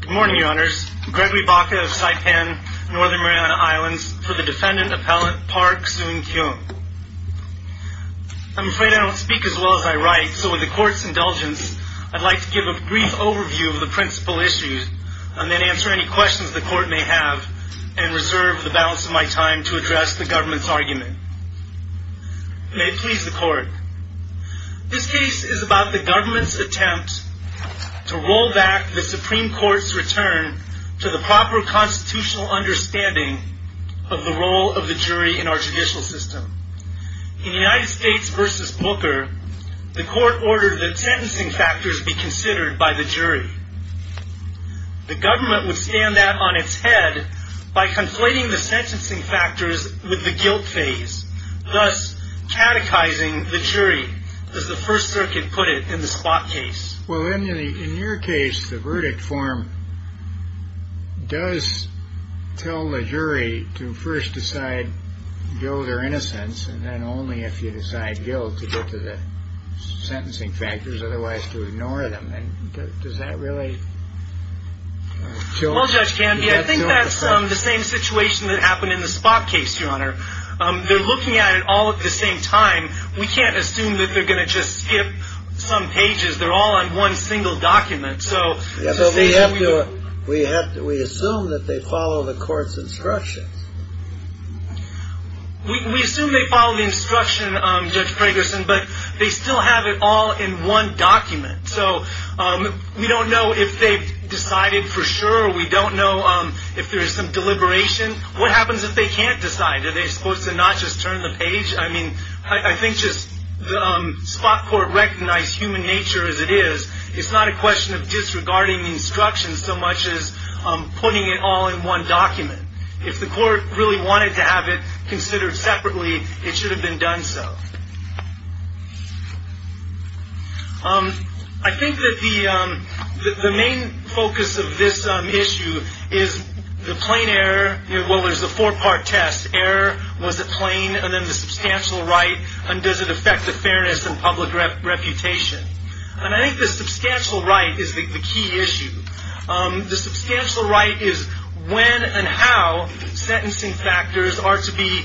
Good morning, Your Honors. I'm Gregory Baca of Saipan, Northern Mariana Islands, for the Defendant Appellant Park Soon-Kyung. I'm afraid I don't speak as well as I write, so with the Court's indulgence, I'd like to give a brief overview of the principal issues, and then answer any questions the Court may have, and reserve the balance of my time to address the Government's argument. May it please the Court. This case is about the Government's attempt to roll back the Supreme Court's return to the proper constitutional understanding of the role of the jury in our judicial system. In United States v. Booker, the Court ordered that sentencing factors be considered by the jury. The Government would stand that on its head by conflating the sentencing factors with the guilt phase, thus catechizing the jury, as the First Circuit put it in the Spock case. Well, in your case, the verdict form does tell the jury to first decide guilt or innocence, and then only if you decide guilt to go to the sentencing factors, otherwise to ignore them. Does that really... Well, Judge Canby, I think that's the same situation that happened in the Spock case, Your Honor. They're looking at it all at the same time. We can't assume that they're going to just skip some pages. They're all on one single document, so... Yes, but we have to... We assume that they follow the Court's instructions. We assume they follow the instruction, Judge Fragerson, but they still have it all in one We don't know if there's some deliberation. What happens if they can't decide? Are they supposed to not just turn the page? I mean, I think just... Spock Court recognized human nature as it is. It's not a question of disregarding the instructions so much as putting it all in one document. If the Court really wanted to have it considered separately, it should have been done so. I think that the main focus of this issue is the plain error... Well, there's a four-part test. Error, was it plain? And then the substantial right, and does it affect the fairness and public reputation? And I think the substantial right is the key issue. The substantial right is when and how sentencing factors are to be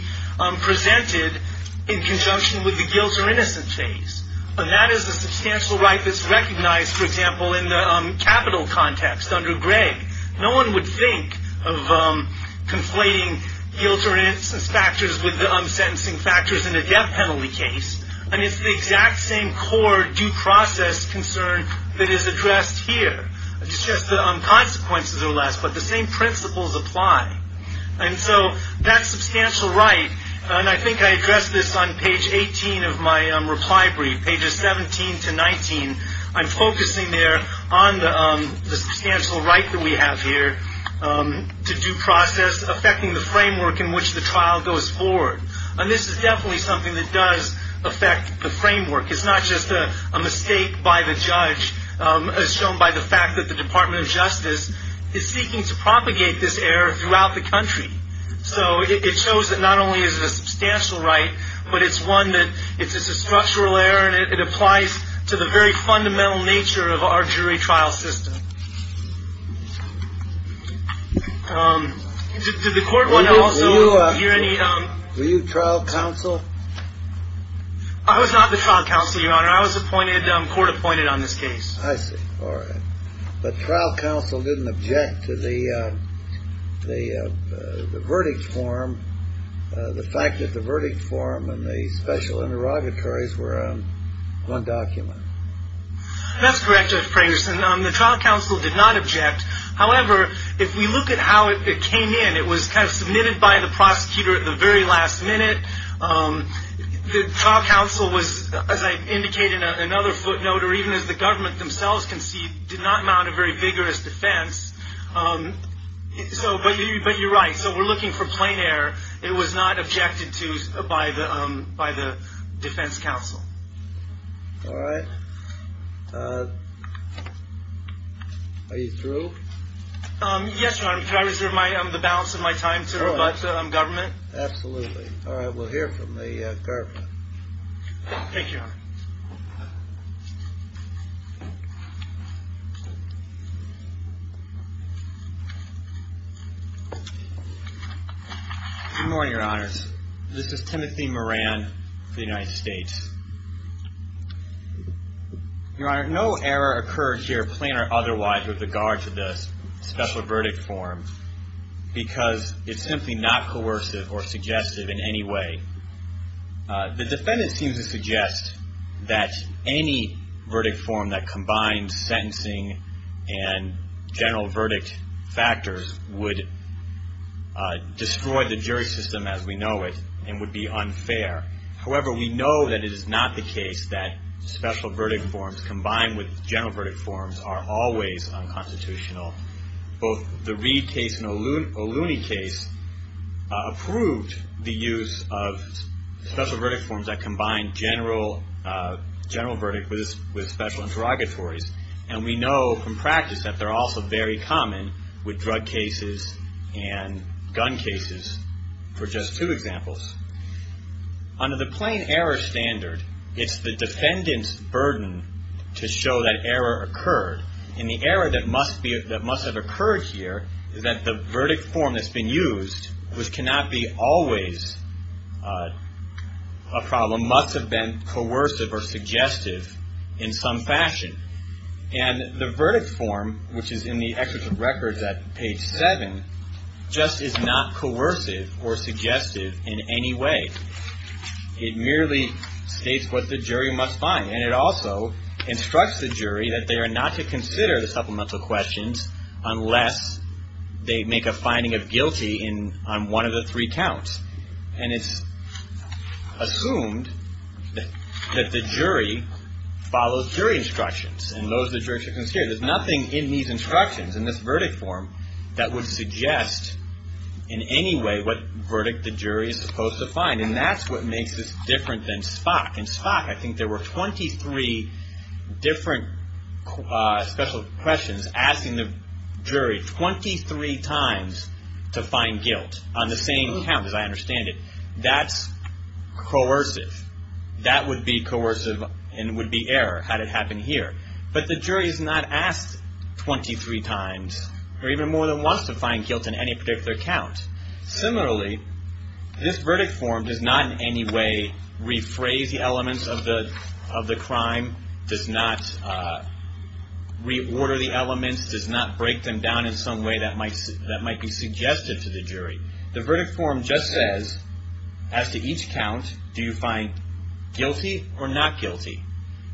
presented in conjunction with the guilt or innocence phase. And that is the substantial right that's recognized, for example, in the capital context under Gregg. No one would think of conflating guilt or innocence factors with the sentencing factors in a death penalty case. I mean, it's the exact same core due process addressed here. It's just the consequences are less, but the same principles apply. And so that substantial right, and I think I addressed this on page 18 of my reply brief, pages 17 to 19. I'm focusing there on the substantial right that we have here to due process affecting the framework in which the trial goes forward. And this is definitely something that does affect the framework. It's not just a mistake by the judge, as shown by the fact that the Department of Justice is seeking to propagate this error throughout the country. So it shows that not only is it a substantial right, but it's one that, it's a structural error, and it applies to the very fundamental nature of our jury trial system. Did the court want to also hear any... Were you trial counsel? I was not the trial counsel, Your Honor. I was appointed, court appointed on this case. I see. All right. But trial counsel didn't object to the, the verdict form, the fact that the verdict form and the special interrogatories were on one document. That's correct, Judge Fragerson. The trial counsel did not object. However, if we look at how it came in, it was kind of submitted by the prosecutor at the very last minute. The trial counsel was, as I indicated, another footnote, or even as the government themselves concede, did not mount a very vigorous defense. So, but you're right. So we're looking for plain error. It was not objected to by the defense counsel. All right. Are you through? Yes, Your Honor. Can I reserve my, the balance of my time to the government? Absolutely. All right. We'll hear from the government. Thank you, Your Honor. Good morning, Your Honors. This is Timothy Moran of the United States. Your Honor, no error occurred to your otherwise with regard to the special verdict form because it's simply not coercive or suggestive in any way. The defendant seems to suggest that any verdict form that combines sentencing and general verdict factors would destroy the jury system as we know it and would be unfair. However, we know that it is not the case that special verdict forms combined with special interrogatories are always unconstitutional. Both the Reed case and O'Looney case approved the use of special verdict forms that combine general verdict with special interrogatories. And we know from practice that they're also very common with drug cases and gun cases for just two examples. Under the plain error standard, it's the defendant's burden to show that error occurred. And the error that must be, that must have occurred here is that the verdict form that's been used, which cannot be always a problem, must have been coercive or suggestive in some fashion. And the verdict form, which is in the excerpt of records at page seven, just is not coercive or suggestive in any way. It merely states what the jury must find. And it also instructs the jury that they are not to consider the supplemental questions unless they make a finding of guilty on one of the three counts. And it's assumed that the jury follows jury instructions and those the jury should consider. There's nothing in these instructions, in this verdict form, that would suggest in any way what verdict the jury is supposed to find. And that's what makes this different than Spock. In Spock, I think there were 23 different special questions asking the jury 23 times to find guilt on the same count, as I understand it. That's coercive. That would be coercive and would be error had it happened here. But the jury is not asked 23 times or even more than once to find guilt in any particular count. Similarly, this verdict form does not in any way rephrase the elements of the crime, does not reorder the elements, does not break them down in some way that might be suggestive to the jury. The verdict form just says, as to each count, do you find guilty or not guilty?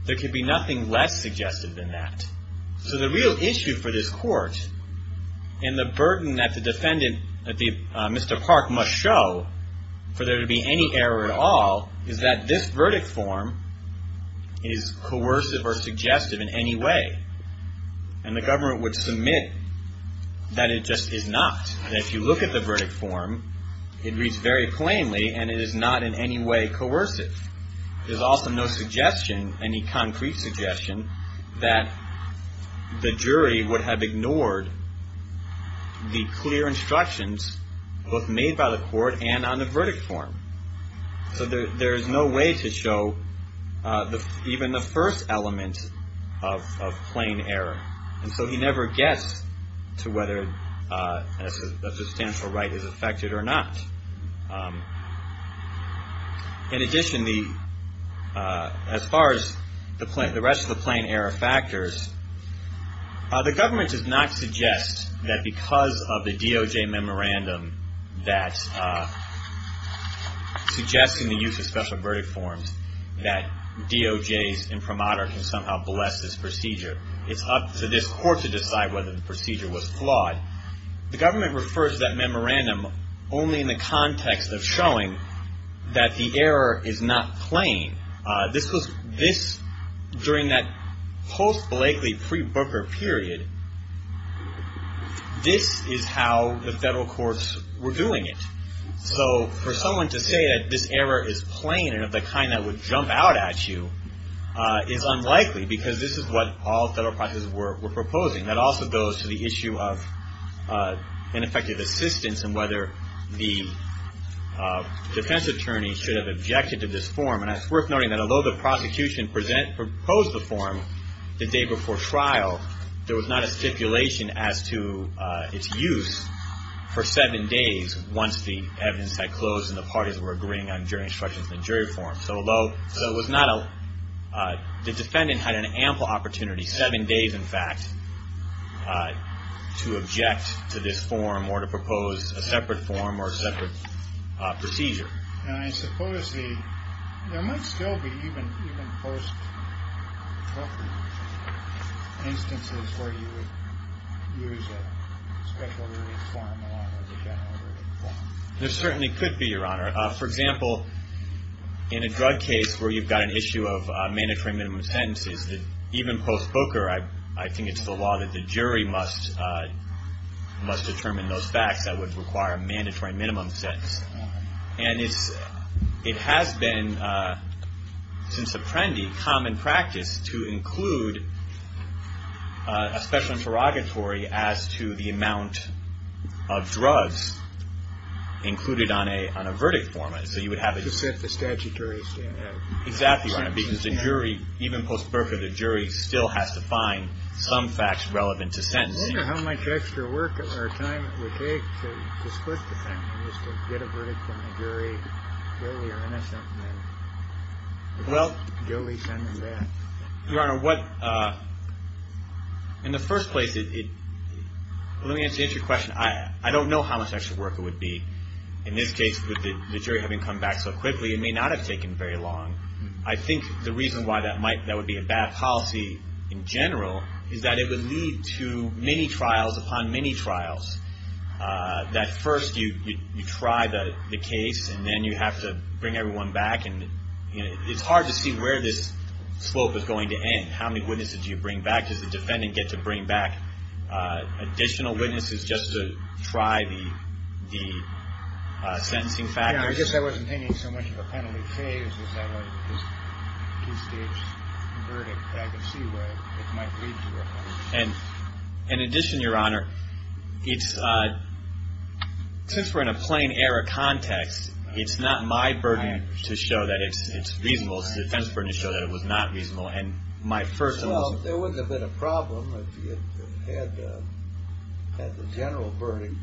There could be nothing less suggestive than that. So the real issue for this court and the burden that the defendant, Mr. Park, must show for there to be any error at all is that this verdict form is coercive or suggestive in any way. And the government would submit that it just is not. And if you look at the verdict form, it reads very plainly and it is not in any way coercive. There's also no suggestion, any concrete suggestion, that the jury would have ignored the clear instructions both made by the court and on the verdict form. So there's no way to show even the first element of plain error. And so he never gets to whether a substantial right is affected or not. In addition, as far as the rest of the plain error factors, the government does not suggest that because of the DOJ memorandum that's suggesting the use of special verdict forms, that DOJ's imprimatur can somehow bless this procedure. It's up to this court to decide whether the procedure was flawed. The government refers to that memorandum only in the context of showing that the error is not plain. This was, this, during that post-Blakely pre-Booker period, this is how the federal courts were doing it. So for someone to say that this error is plain and of the kind that would jump out at you is unlikely because this is what all federal prosecutors were proposing. That also goes to the issue of ineffective assistance and whether the defense attorney should have objected to this form. And it's not, there was not a stipulation as to its use for seven days once the evidence had closed and the parties were agreeing on jury instructions and jury forms. So although, so it was not a, the defendant had an ample opportunity, seven days in fact, to object to this form or to propose a separate form or a separate procedure. And I suppose the, there might still be even post-Blakely instances where the defense attorney would use a special ruling form along with a general ruling form. There certainly could be, Your Honor. For example, in a drug case where you've got an issue of mandatory minimum sentences, even post-Booker, I think it's the law that the jury must determine those facts that would require a mandatory minimum sentence. And it's, it has been since Apprendi common practice to include a special interrogatory as to the amount of drugs included on a, on a verdict form. So you would have a To set the statutory standard. Exactly, Your Honor, because the jury, even post-Booker, the jury still has to find some facts relevant to sentencing. I wonder how much extra work or time it would take to split the sentence, to get a verdict from the jury, clearly you're innocent, and then guilty, send them back. Well, Your Honor, what, in the first place, it, let me answer your question. I, I don't know how much extra work it would be. In this case, with the, the jury having come back so quickly, it may not have taken very long. I think the reason why that might, that would be a bad policy in general, is that it would lead to many trials upon many trials. That first you, you, you try the, the case, and then you have to bring everyone back. And it's hard to see where this slope is going to end. How many witnesses do you bring back? Does the defendant get to bring back additional witnesses just to try the, the sentencing factors? Yeah, I guess I wasn't thinking so much of a penalty phase as I was, this two-stage verdict, that I could see where it might lead to a penalty. And in addition, Your Honor, it's, since we're in a plain error context, it's not my burden to show that it's, it's reasonable. It's the defense's burden to show that it was not reasonable. And my first thought was... Well, there wouldn't have been a problem if you had, had the general verdict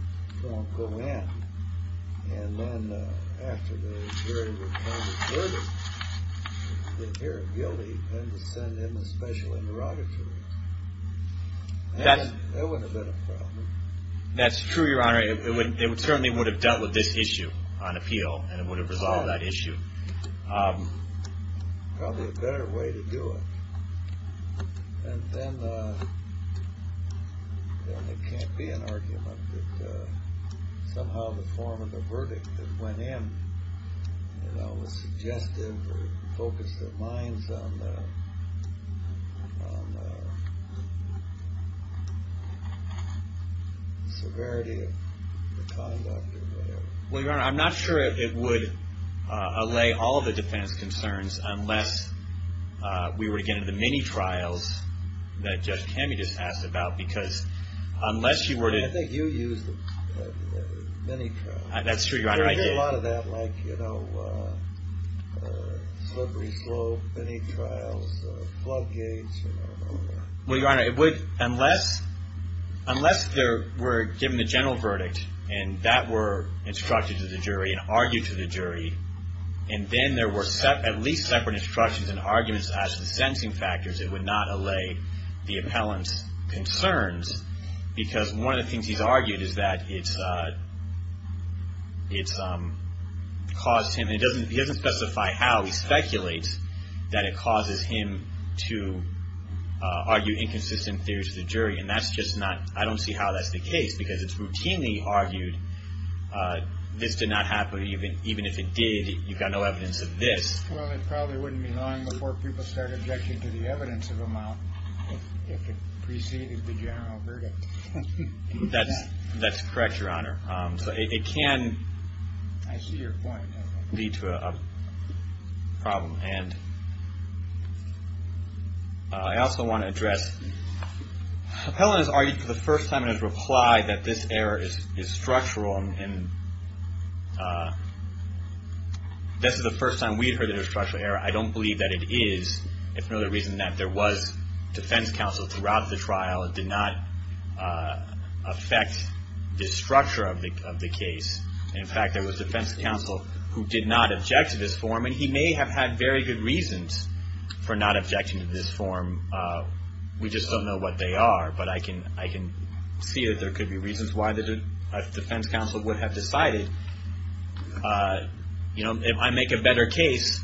go in. And then after the jury would come to the verdict, if you're guilty, you had to send him a special hearing, and you brought it to us. That wouldn't have been a problem. That's true, Your Honor. It would, it certainly would have dealt with this issue on appeal, and it would have resolved that issue. Probably a better way to do it. And then, then it can't be an argument that somehow the form of the verdict that went in, you know, was suggestive or focused their minds on the severity of the conduct or whatever. Well, Your Honor, I'm not sure it would allay all of the defense concerns unless we were to get into the mini-trials that Judge Kamey just asked about, because unless you were to... Well, I think you used the mini-trials. That's true, Your Honor, I did. There would be a lot of that, like, you know, slippery slope, mini-trials, floodgates, well, Your Honor, it would, unless there were given a general verdict, and that were instructed to the jury and argued to the jury, and then there were at least separate instructions and arguments as to the sentencing factors, it would not allay the appellant's concerns, because one of the things he's argued is that it's caused him, and he doesn't specify how, but he speculates that it causes him to argue inconsistent theories to the jury, and that's just not, I don't see how that's the case, because it's routinely argued, this did not happen, even if it did, you've got no evidence of this. Well, it probably wouldn't be long before people start objecting to the evidence of a mount, if it preceded the general verdict. That's correct, Your Honor. So it can, I see your point, lead to a problem, and I also want to address, the appellant has argued for the first time and has replied that this error is structural, and this is the first time we've heard that it's a structural error. I don't believe that it is. It's another reason that there was defense counsel throughout the trial, it did not affect the structure of the case, and in fact, there was defense counsel who did not object to this form, and he may have had very good reasons for not objecting to this form, we just don't know what they are, but I can see that there could be reasons why the defense counsel would have decided, you know, if I make a better case,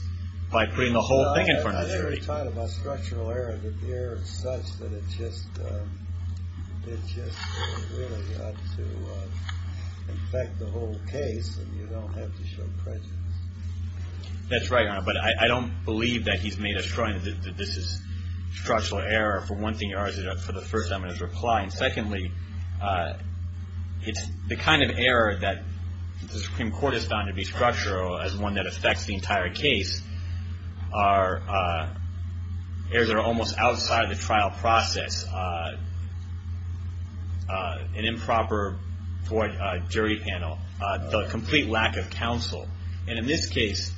by putting the whole thing in front of the jury. You talked about structural error, that the error is such that it's just, it's just really up to, in fact, the whole case, and you don't have to show prejudice. That's right, Your Honor, but I don't believe that he's made a strong, that this is structural error, for one thing, for the first time in his reply, and secondly, it's the kind of error that the Supreme Court has found to be structural, as one that affects the entire case, are errors that are almost outside the trial process, an improper for a jury panel, the complete lack of counsel, and in this case,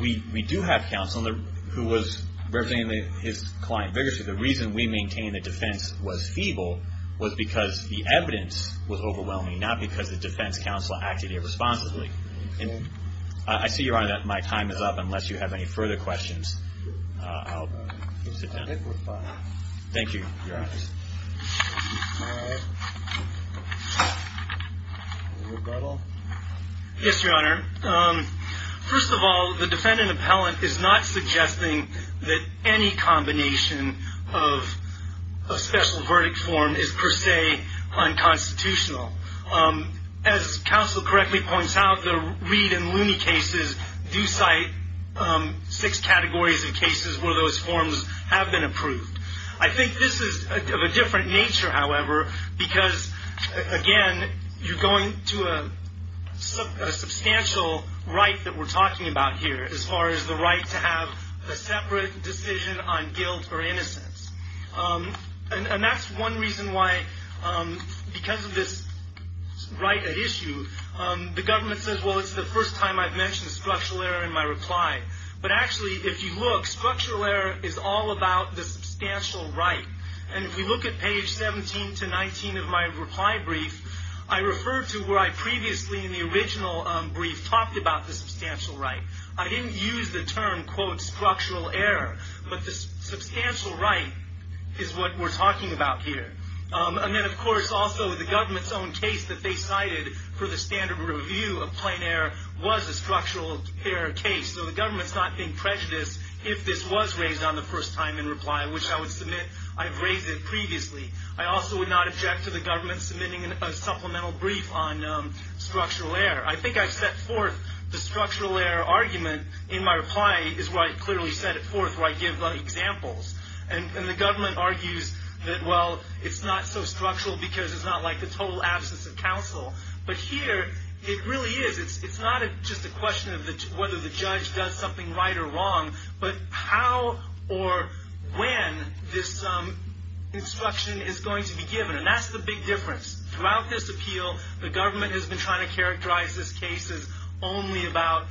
we do have counsel who was representing his client vigorously, the reason we maintain the defense was feeble was because the evidence was overwhelming, not because the defense counsel acted irresponsibly, and I see, Your Honor, time is up, unless you have any further questions, I'll sit down, thank you, Your Honor, yes, Your Honor, first of all, the defendant appellant is not suggesting that any combination of a special verdict form is per se unconstitutional, as counsel correctly points out, the Reed and Looney cases do cite six categories of cases where those forms have been approved, I think this is of a different nature, however, because, again, you're going to a substantial right that we're talking about here, as far as the right to have a separate decision on guilt or innocence, and that's one reason why, because of this right issue, the government says, well, it's the first time I've mentioned structural error in my reply, but actually, if you look, structural error is all about the substantial right, and if you look at page 17 to 19 of my reply brief, I refer to where I previously, in the original brief, talked about the substantial right, I didn't use the term, quote, structural error, but the substantial right is what we're talking about here, and then, of course, also the government's own case that they cited for the standard review of plain error was a structural error case, so the government's not being prejudiced if this was raised on the first time in reply, which I would submit I've raised it previously. I also would not object to the government submitting a supplemental brief on structural error. I think I've set forth the structural error argument in my reply is where I clearly set it forth, where I give examples, and the government argues that, well, it's not so structural because it's not like the total absence of counsel, but here, it really is. It's not just a question of whether the judge does something right or wrong, but how or when this instruction is going to be given, and that's the big difference. Throughout this appeal, the government has been trying to characterize this case as only about,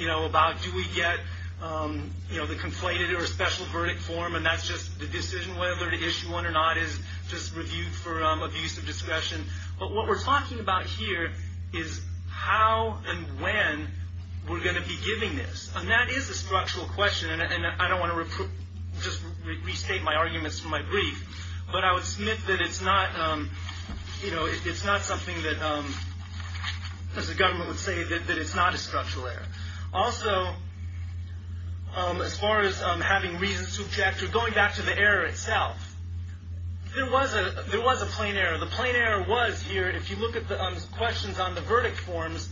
you know, do we get the conflated or special verdict form, and that's just the decision whether to issue one or not is just viewed for abuse of discretion, but what we're talking about here is how and when we're going to be giving this, and that is a structural question, and I don't want to just restate my arguments from my brief, but I would submit that it's not, you know, it's not something that, as the government would say, that it's not a structural error. Also, as far as having reason to object, we're going back to the error itself. There was a plain error. The plain error was here, if you look at the questions on the verdict forms,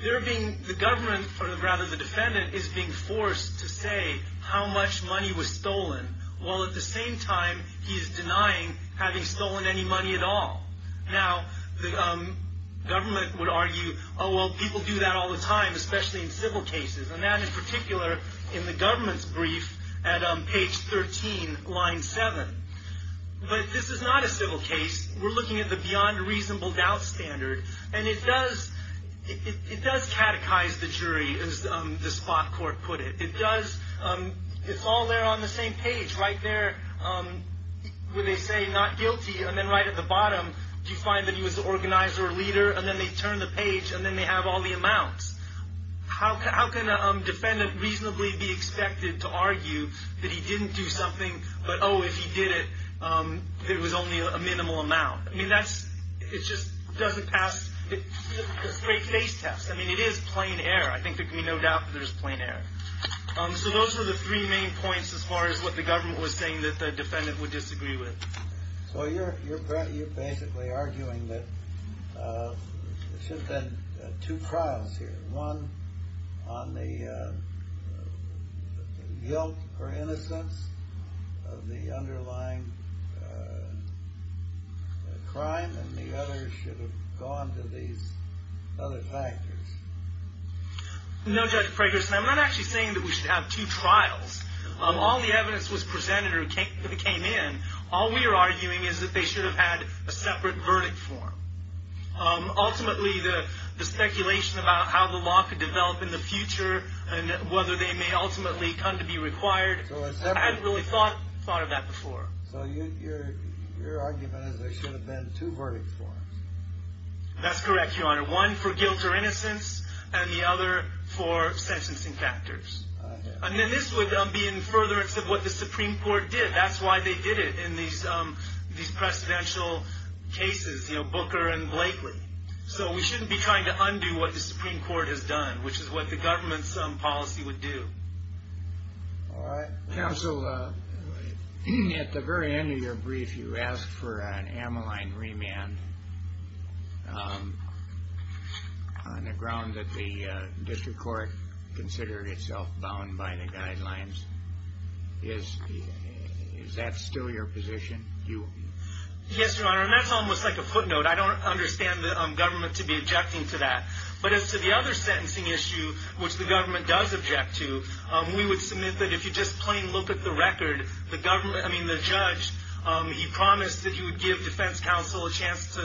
the government, or rather the defendant, is being forced to say how much money was stolen, while at the same time, he's denying having stolen any money at all. Now, the government would argue, oh, well, people do that all the time, especially in civil cases, and that, in particular, in the government's brief at page 13, line 7, but this is not a civil case. We're looking at the beyond reasonable doubt standard, and it does, it does catechize the jury, as the spot court put it. It does, it's all there on the same page, right there where they say not guilty, and then right at the bottom, you find that he was the organizer or leader, and then they turn the page, and then they have all the amounts. How can a defendant reasonably be expected to argue that he didn't do something, but, oh, if he did it, it was only a minimal amount? I mean, that's, it just doesn't pass the straight face test. I mean, it is plain error. I think there can be no doubt that there's a plain error. So those were the three main points, as far as what the government was saying that the defendant would disagree with. So you're, you're, you're basically arguing that there should have been two trials here. One on the guilt or innocence of the underlying crime, and the other should have gone to these other factors. No, Judge Fragerson, I'm not actually saying that we should have two trials. All the we're arguing is that they should have had a separate verdict form. Ultimately, the speculation about how the law could develop in the future, and whether they may ultimately come to be required, I hadn't really thought of that before. So your argument is there should have been two verdict forms. That's correct, Your Honor. One for guilt or innocence, and the other for sentencing factors. And then this would be in furtherance of what the Supreme Court did. That's why they did it in these, these presidential cases, you know, Booker and Blakely. So we shouldn't be trying to undo what the Supreme Court has done, which is what the government's policy would do. All right. Counsel, at the very end of your brief, you asked for an amyline remand on the ground that the district court considered itself bound by the guidelines. Is that still your position? Yes, Your Honor, and that's almost like a footnote. I don't understand the government to be objecting to that. But as to the other sentencing issue, which the government does object to, we would submit that if you just plain look at the record, the government, I mean, the judge, he promised that he would give defense counsel a chance to,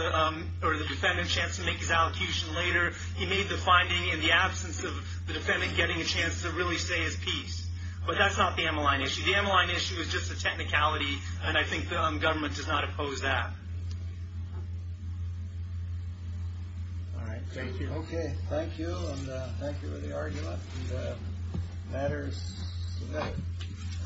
or the defendant, a chance to make his allocution later. He made the finding in the absence of the defendant getting a chance to really say his piece. But that's not the amyline issue. The amyline issue is just a technicality, and I think the government does not oppose that. All right. Thank you. Okay. Thank you, and thank you for the argument. The matter is submitted.